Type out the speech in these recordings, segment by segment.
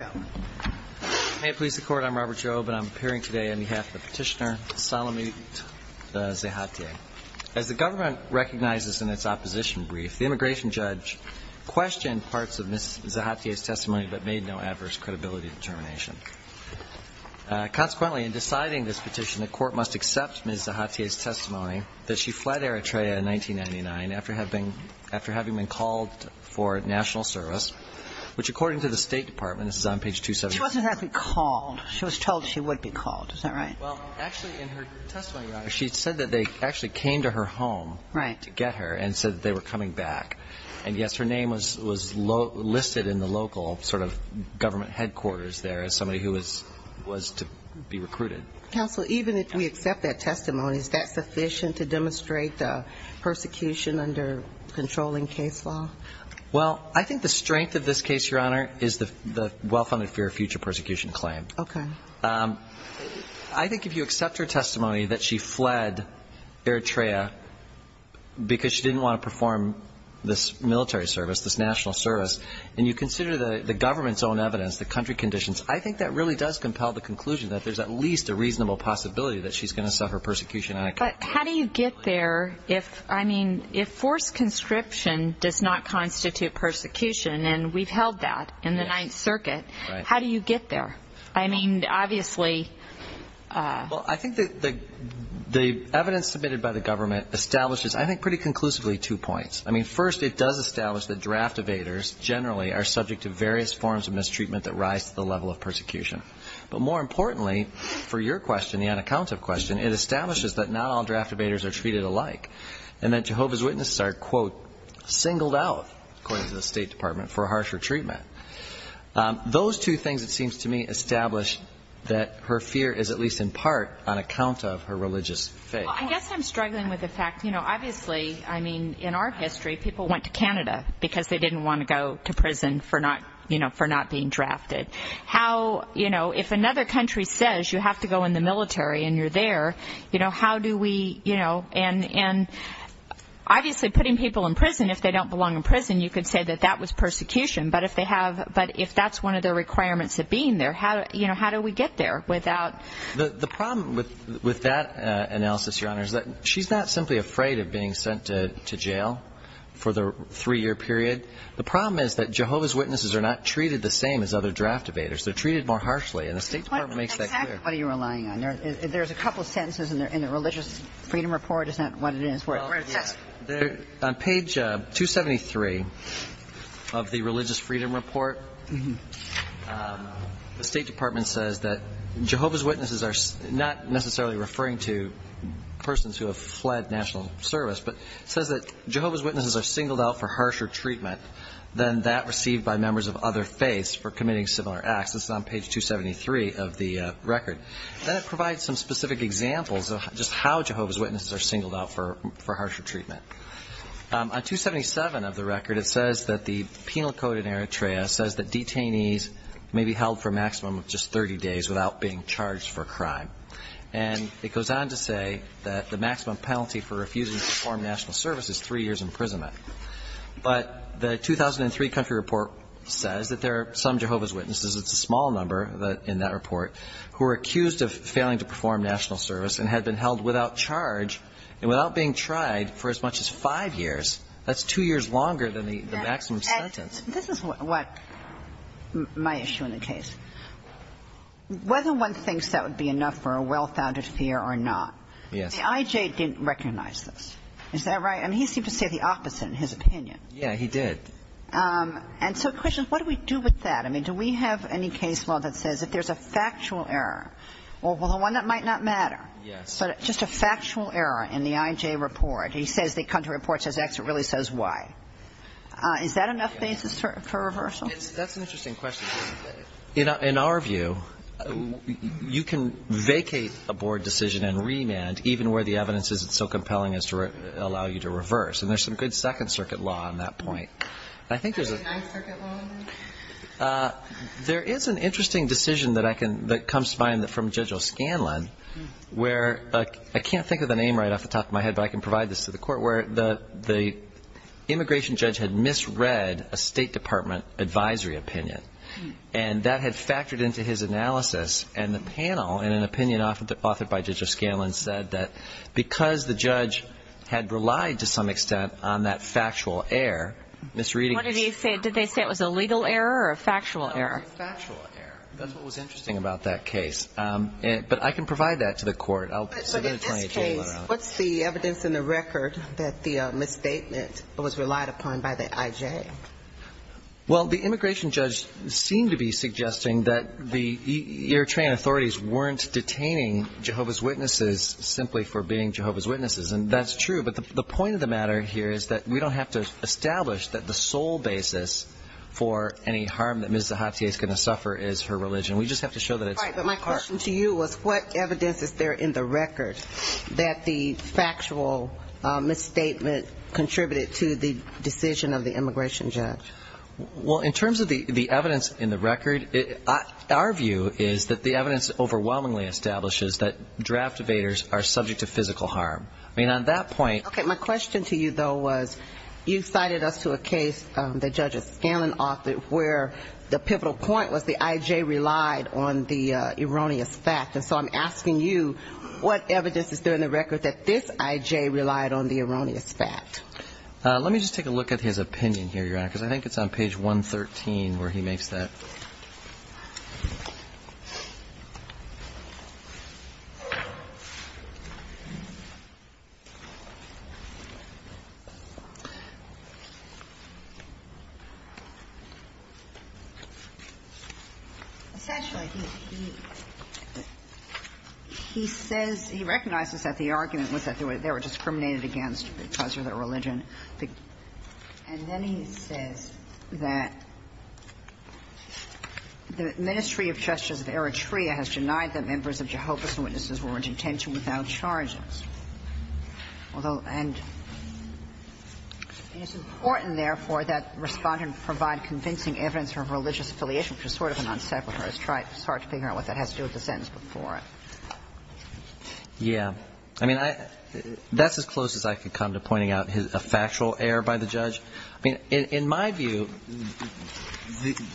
As the government recognizes in its opposition brief, the immigration judge questioned parts of Ms. Zahatye's testimony but made no adverse credibility determination. Consequently in deciding this petition, the court must accept Ms. Zahatye's testimony that she fled Eritrea in 1999 after having been called for national service, which according to the State Department, this is on page 274. She wasn't actually called. She was told she would be called. Is that right? Well, actually in her testimony, Your Honor, she said that they actually came to her home to get her and said that they were coming back. And yes, her name was listed in the local sort of government headquarters there as somebody who was to be recruited. Counsel, even if we accept that testimony, is that sufficient to demonstrate the persecution under controlling case law? Well, I think the strength of this case, Your Honor, is the well-funded fear of future persecution claim. I think if you accept her testimony that she fled Eritrea because she didn't want to perform this military service, this national service, and you consider the government's own evidence, the country conditions, I think that really does compel the conclusion that there's at least a reasonable possibility that she's going to suffer persecution on a country level. But how do you get there if, I mean, if forced conscription does not constitute persecution, and we've held that in the Ninth Circuit, how do you get there? I mean, obviously... I think the evidence submitted by the government establishes, I think pretty conclusively, two points. I mean, first, it does establish that draft evaders generally are subject to various forms of mistreatment that rise to the level of persecution. But more importantly, for your question, the unaccounted question, it establishes that not all draft evaders are treated alike, and that Jehovah's Witnesses are, quote, singled out, according to the State Department, for harsher treatment. Those two things, it seems to me, establish that her fear is at least in part on account of her religious faith. Well, I guess I'm struggling with the fact, you know, obviously, I mean, in our history, people went to Canada because they didn't want to go to prison for not being drafted. How, you know, if another country says you have to go in the military and you're there, you know, how do we, you know, and obviously, putting people in prison, if they don't belong in prison, you could say that that was persecution, but if they have, but if that's one of the requirements of being there, you know, how do we get there without... The problem with that analysis, Your Honor, is that she's not simply afraid of being sent to jail for the three-year period. The problem is that Jehovah's Witnesses are not treated the same as other draft evaders. They're treated more harshly, and the State Department makes that clear. What exactly are you relying on? There's a couple sentences in the Religious Freedom Report. Is that what it is? Well, yes. On page 273 of the Religious Freedom Report, the State Department says that Jehovah's Witnesses are not necessarily referring to persons who have fled national service, but it says that are singled out for harsher treatment than that received by members of other faiths for committing similar acts. This is on page 273 of the record. Then it provides some specific examples of just how Jehovah's Witnesses are singled out for harsher treatment. On 277 of the record, it says that the Penal Code in Eritrea says that detainees may be held for a maximum of just 30 days without being charged for a crime. And it goes on to say that the maximum penalty for refusing to perform national service is three years imprisonment. But the 2003 country report says that there are some Jehovah's Witnesses, it's a small number in that report, who are accused of failing to perform national service and had been held without charge and without being tried for as much as five years. That's two years longer than the maximum sentence. This is what my issue in the case. Whether one thinks that would be enough for a well-founded fear or not, the I.J. didn't recognize this. Is that right? I mean, he seemed to say the opposite in his opinion. Yeah, he did. And so, questions, what do we do with that? I mean, do we have any case law that says if there's a factual error, well, the one that might not matter, but just a factual error in the I.J. report, he says the country report says X, it really says Y. Is that enough basis for reversal? That's an interesting question. In our view, you can vacate a board decision and remand even where the evidence isn't so compelling as to allow you to reverse. And there's some good Second Circuit law on that point. I think there's a- Is there a Ninth Circuit law on that? There is an interesting decision that comes to mind from Judge O'Scanlan, where I can't think of the name right off the top of my head, but I can provide this to the court, where the immigration judge had misread a State Department advisory opinion. And that had factored into his analysis. And the panel, in an opinion authored by Judge O'Scanlan, said that because the judge had relied to some extent on that factual error, misreading- What did he say? Did they say it was a legal error or a factual error? A factual error. That's what was interesting about that case. But I can provide that to the court. I'll submit a 20-page letter on it. But in this case, what's the evidence in the record that the misstatement was relied upon by the IJ? Well, the immigration judge seemed to be suggesting that the Eritrean authorities weren't detaining Jehovah's Witnesses simply for being Jehovah's Witnesses. And that's true. But the point of the matter here is that we don't have to establish that the sole basis for any harm that Ms. Zahatiye is going to suffer is her religion. We just have to show that it's- Right, but my question to you was, what evidence is there in the record that the factual misstatement contributed to the decision of the immigration judge? Well, in terms of the evidence in the record, our view is that the evidence overwhelmingly establishes that draft evaders are subject to physical harm. I mean, on that point- Okay, my question to you, though, was, you cited us to a case that Judge Scanlon authored where the pivotal point was the IJ relied on the erroneous fact. And so I'm asking you, what evidence is there in the record that this IJ relied on the erroneous fact? Let me just take a look at his opinion here. Because I think it's on page 113 where he makes that- Essentially, he says he recognizes that the argument was that they were discriminated against because of their religion. And then he says that the Ministry of Justice of Eritrea has denied that members of Jehovah's Witnesses were in detention without charges. Although, and it's important, therefore, that Respondent provide convincing evidence for religious affiliation, which is sort of an unsacred. It's hard to figure out what that has to do with the sentence before it. Yeah. I mean, that's as close as I can come to pointing out a factual error by the judge. I mean, in my view,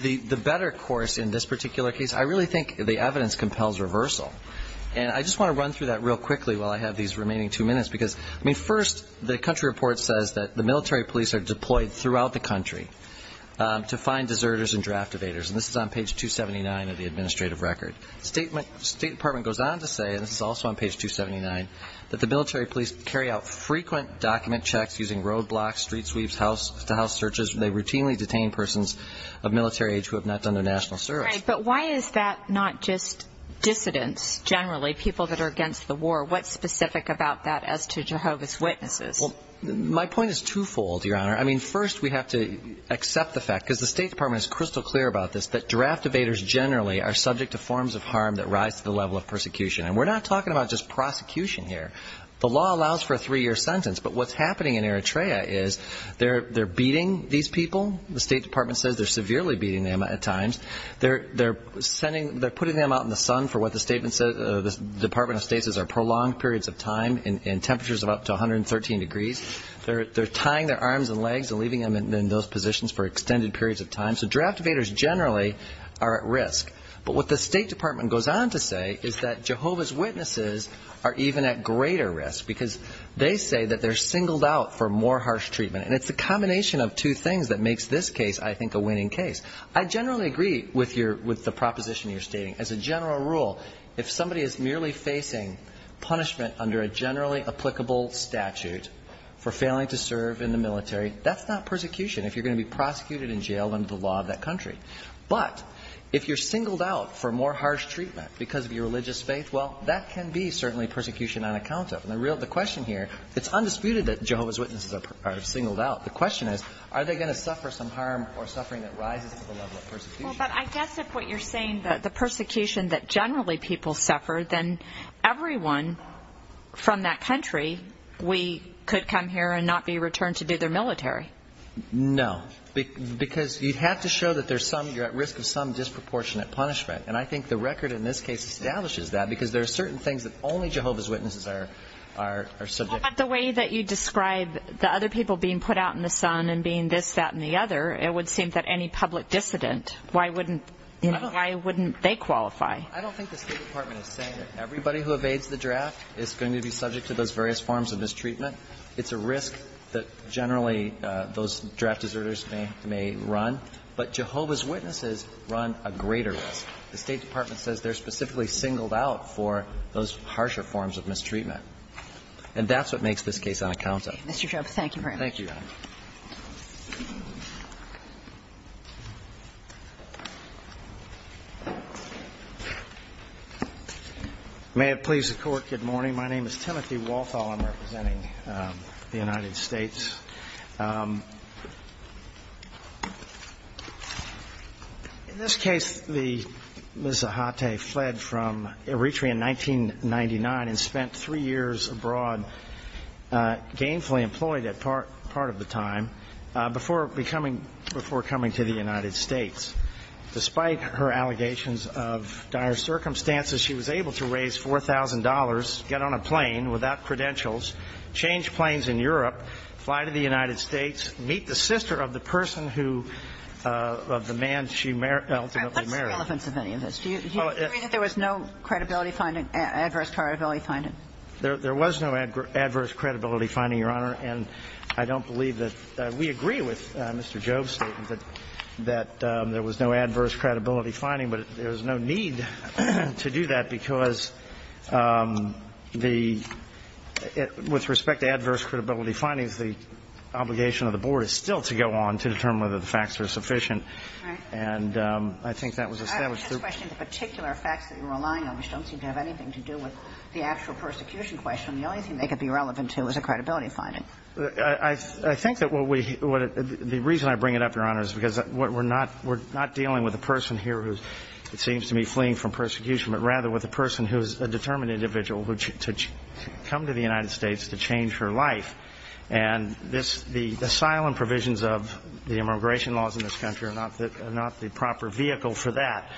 the better course in this particular case, I really think the evidence compels reversal. And I just want to run through that real quickly while I have these remaining two minutes. Because, I mean, first, the country report says that the military police are deployed throughout the country to find deserters and draft evaders. And this is on page 279 of the administrative record. State Department goes on to say, and this is also on page 279, that the military police carry out frequent document checks using roadblocks, street sweeps, house to house searches. They routinely detain persons of military age who have not done their national service. But why is that not just dissidents generally, people that are against the war? What's specific about that as to Jehovah's Witnesses? Well, my point is twofold, Your Honor. I mean, first, we have to accept the fact, because the State Department is crystal clear about this, that draft evaders generally are subject to forms of harm that rise to the level of persecution. And we're not talking about just prosecution here. The law allows for a three-year sentence. But what's happening in Eritrea is they're beating these people. The State Department says they're severely beating them at times. They're putting them out in the sun for what the Department of State says are prolonged periods of time in temperatures of up to 113 degrees. They're tying their arms and legs and leaving them in those positions for extended periods of time. So draft evaders generally are at risk. But what the State Department goes on to say is that Jehovah's Witnesses are even at greater risk, because they say that they're singled out for more harsh treatment. And it's the combination of two things that makes this case, I think, a winning case. I generally agree with the proposition you're stating. As a general rule, if somebody is merely facing punishment under a generally applicable statute for failing to serve in the military, that's not persecution. If you're going to be prosecuted in jail under the law of that country. But if you're singled out for more harsh treatment because of your religious faith, well, that can be certainly persecution on account of. And the question here, it's undisputed that Jehovah's Witnesses are singled out. The question is, are they going to suffer some harm or suffering that rises to the level of persecution? Well, but I guess if what you're saying that the persecution that generally people suffer, then everyone from that country, we could come here and not be returned to do their military. No, because you'd have to show that there's some, you're at risk of some disproportionate punishment. And I think the record in this case establishes that because there are certain things that only Jehovah's Witnesses are, are, are subject. But the way that you describe the other people being put out in the sun and being this, that, and the other, it would seem that any public dissident, why wouldn't, you know, why wouldn't they qualify? I don't think the State Department is saying that everybody who evades the draft is going to be subject to those various forms of mistreatment. It's a risk that generally those draft deserters may, may run. But Jehovah's Witnesses run a greater risk. The State Department says they're specifically singled out for those harsher forms of mistreatment. And that's what makes this case unaccountable. Thank you, Your Honor. May it please the Court, good morning. My name is Timothy Walthall. I'm representing the United States. In this case, the, Ms. Zahate fled from Eritrea in 1999 and spent three years abroad, gainfully employed at part, part of the time, before becoming, before coming to the United States. Despite her allegations of dire circumstances, she was able to raise $4,000, get on a plane without credentials, change planes in Europe, fly to the United States, meet the sister of the person who, of the man she ultimately married. What's the relevance of any of this? Do you agree that there was no credibility finding, adverse credibility finding? There was no adverse credibility finding, Your Honor. And I don't believe that we agree with Mr. Jobe's statement that there was no adverse credibility finding. The, with respect to adverse credibility findings, the obligation of the Board is still to go on to determine whether the facts are sufficient. And I think that was established through the – I'm just questioning the particular facts that you're relying on, which don't seem to have anything to do with the actual persecution question. The only thing they could be relevant to is a credibility finding. I think that what we – the reason I bring it up, Your Honor, is because we're not – we're not dealing with a person here who, it seems to me, fleeing from persecution, I don't think that that's the case. I don't think that that's the case. to come to the United States to change her life, and the asylum provisions of the immigration laws in this country are not the proper vehicle for that.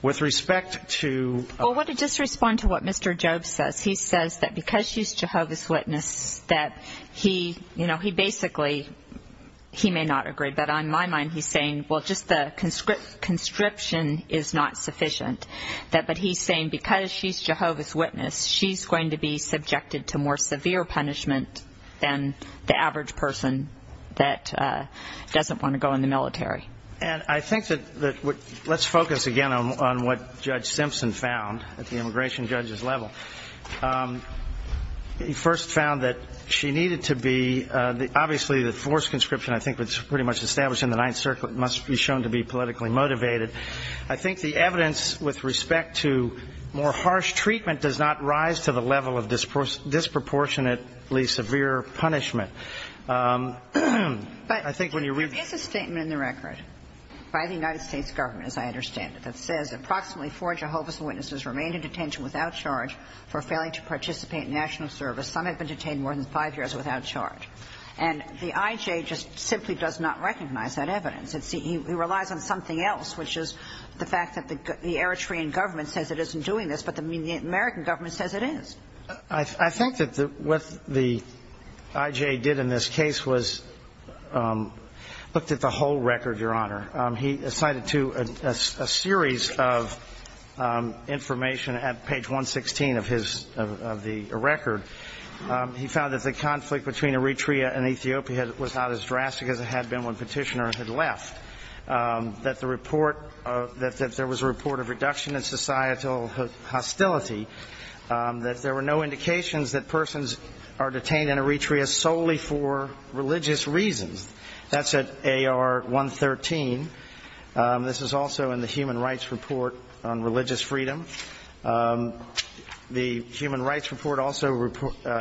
With respect to – Well, I want to just respond to what Mr. Jobe says. He says that because she's Jehovah's Witness, that he, you know, he basically – he may not agree, but on my mind, he's saying, well, just the conscription is not sufficient. But he's saying because she's Jehovah's Witness, she's going to be subjected to more severe punishment than the average person that doesn't want to go in the military. And I think that – let's focus again on what Judge Simpson found at the immigration judge's level. He first found that she needed to be – obviously, the forced conscription, I think, was pretty much established in the Ninth Circuit, must be shown to be politically motivated. I think the evidence with respect to more harsh treatment does not rise to the level of disproportionately severe punishment. I think when you're – But there is a statement in the record by the United States government, as I understand it, that says approximately four Jehovah's Witnesses remained in detention without charge for failing to participate in national service. Some have been detained more than five years without charge. And the IJ just simply does not recognize that evidence. He relies on something else, which is the fact that the Eritrean government says it isn't doing this, but the American government says it is. I think that what the IJ did in this case was looked at the whole record, Your Honor. He cited to a series of information at page 116 of his – of the record. He found that the conflict between Eritrea and Ethiopia was not as drastic as it had been when Petitioner had left, that the report – that there was a report of reduction in societal hostility, that there were no indications that persons are detained in Eritrea solely for religious reasons. That's at AR 113. This is also in the Human Rights Report on Religious Freedom. The Human Rights Report also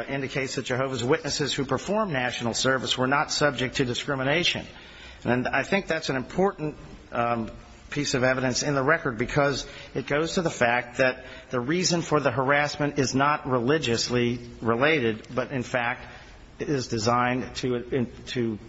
indicates that Jehovah's Witnesses who performed national service were not subject to discrimination. And I think that's an important piece of evidence in the record, because it goes to the fact that the reason for the harassment is not religiously related, but, in fact, it is designed to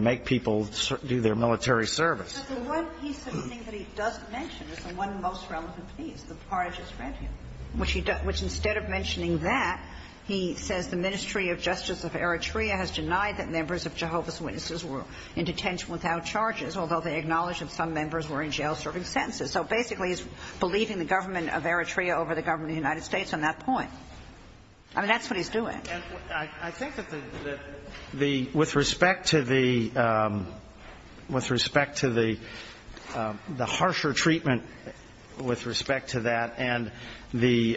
make people do their military service. But the one piece of the thing that he doesn't mention is the one most relevant piece, the part I just read here, which instead of mentioning that, he says, the Ministry of Justice of Eritrea has denied that members of Jehovah's Witnesses were in detention without charges, although they acknowledge that some members were in jail serving sentences. So basically, he's believing the government of Eritrea over the government of the United States on that point. I mean, that's what he's doing. I think that the – with respect to the – with respect to the harsher treatment and with respect to that and the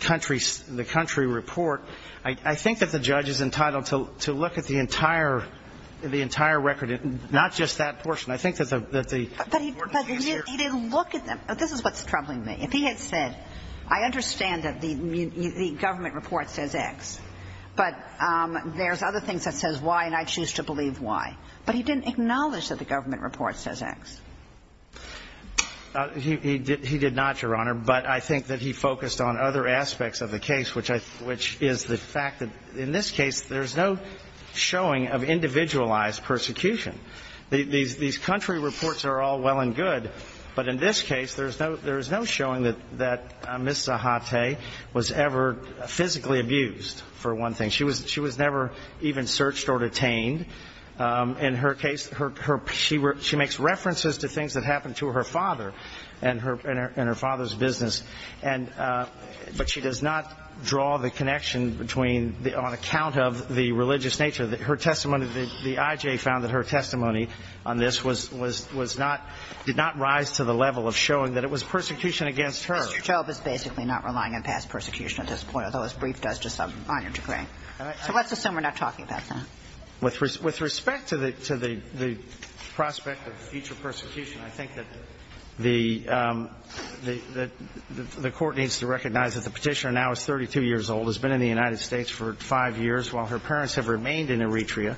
country – the country report, I think that the judge is entitled to look at the entire – the entire record, not just that portion. I think that the important piece here is the government of Eritrea. But he didn't look at them. This is what's troubling me. If he had said, I understand that the government report says X, but there's other things that says Y, and I choose to believe Y. But he didn't acknowledge that the government report says X. He did not, Your Honor, but I think that he focused on other aspects of the case, which I – which is the fact that in this case, there's no showing of individualized persecution. These country reports are all well and good, but in this case, there's no – there's no showing that Ms. Zahate was ever physically abused, for one thing. She was – she was never even searched or detained. In her case, her – she makes references to things that happened to her father and her father's business, and – but she does not draw the connection between – on account of the religious nature. Her testimony – the I.J. found that her testimony on this was – was not – did not rise to the level of showing that it was persecution against her. Mr. Job is basically not relying on past persecution at this point, although his brief does to some minor degree. All right. So let's assume we're not talking about that. With respect to the – to the – the prospect of future persecution, I think that the – that the court needs to recognize that the petitioner now is 32 years old, has been in the United States for five years while her parents have remained in Eritrea,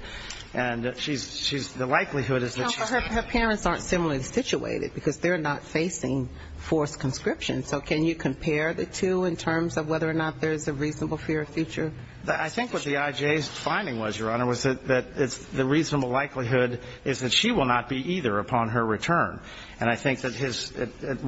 and she's – she's – the likelihood is that she's – Well, her parents aren't similarly situated, because they're not facing forced conscription. So can you compare the two in terms of whether or not there's a reasonable fear of future – I think what the I.J.'s finding was, Your Honor, was that – that it's – the reasonable likelihood is that she will not be either upon her return. And I think that his –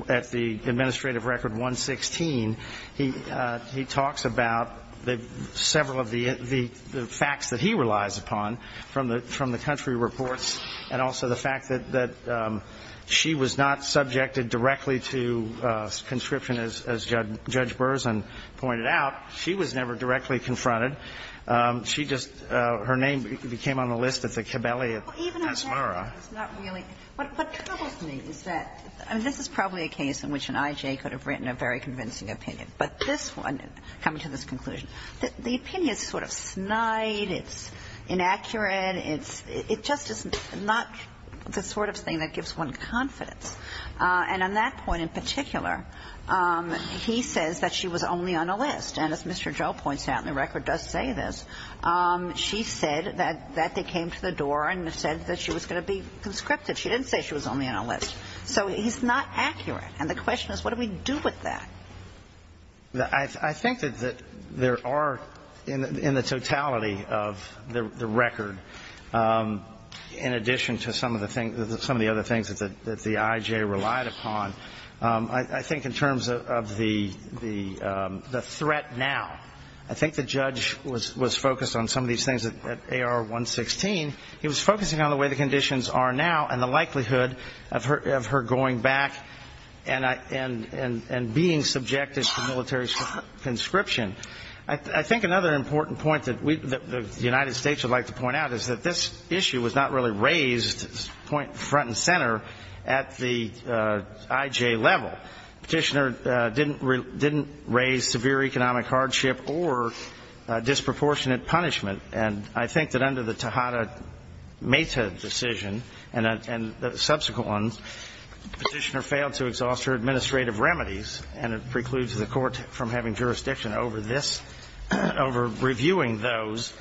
at the Administrative Record 116, he – he talks about the – several of the – the facts that he relies upon from the – from the country reports, and also the fact that – that she was not subjected directly to conscription, as Judge – Judge Berzin pointed out. She was never directly confronted. She just – her name became on the list at the Kibele at Asmara. Well, even on that, it's not really – what troubles me is that – I mean, this is probably a case in which an I.J. could have written a very convincing opinion. But this one, coming to this conclusion, the opinion is sort of snide, it's inaccurate, it's – it just is not the sort of thing that gives one confidence. And on that point in particular, he says that she was only on a list. And as Mr. Joe points out, and the record does say this, she said that – that they came to the door and said that she was going to be conscripted. She didn't say she was only on a list. So he's not accurate. And the question is, what do we do with that? I think that there are, in the totality of the record, in addition to some of the things that the I.J. relied upon, I think in terms of the threat now. I think the judge was focused on some of these things at AR-116. He was focusing on the way the conditions are now and the likelihood of her going back and being subjected to military conscription. I think another important point that we – that the United States would like to point out is that this issue was not really raised front and center at the I.J. level. Petitioner didn't raise severe economic hardship or disproportionate punishment. And I think that under the Tejada-Mehta decision and subsequent ones, Petitioner failed to exhaust her administrative remedies, and it precludes the Court from having jurisdiction over this – over reviewing those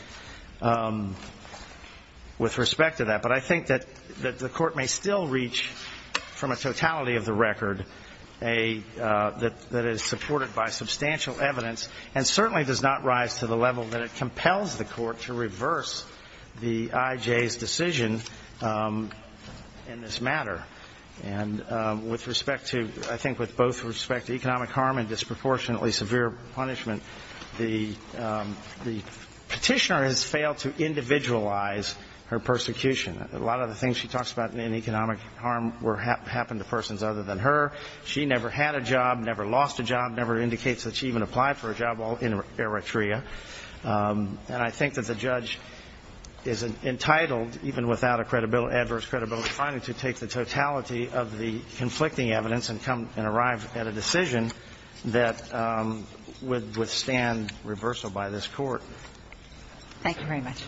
with respect to that. But I think that the Court may still reach, from a totality of the record, a – that is supported by substantial evidence and certainly does not rise to the level that it compels the Court to reverse the I.J.'s decision in this matter. And with respect to – I think with both respect to economic harm and disproportionately severe punishment, the Petitioner has failed to individualize her persecution. A lot of the things she talks about in economic harm were – happened to persons other than her. She never had a job, never lost a job, never indicates that she even applied for a job while in Eritrea. And I think that the judge is entitled, even without a credibility – adverse credibility finding, to take the totality of the conflicting evidence and come and arrive at a decision that would withstand reversal by this Court. Thank you very much.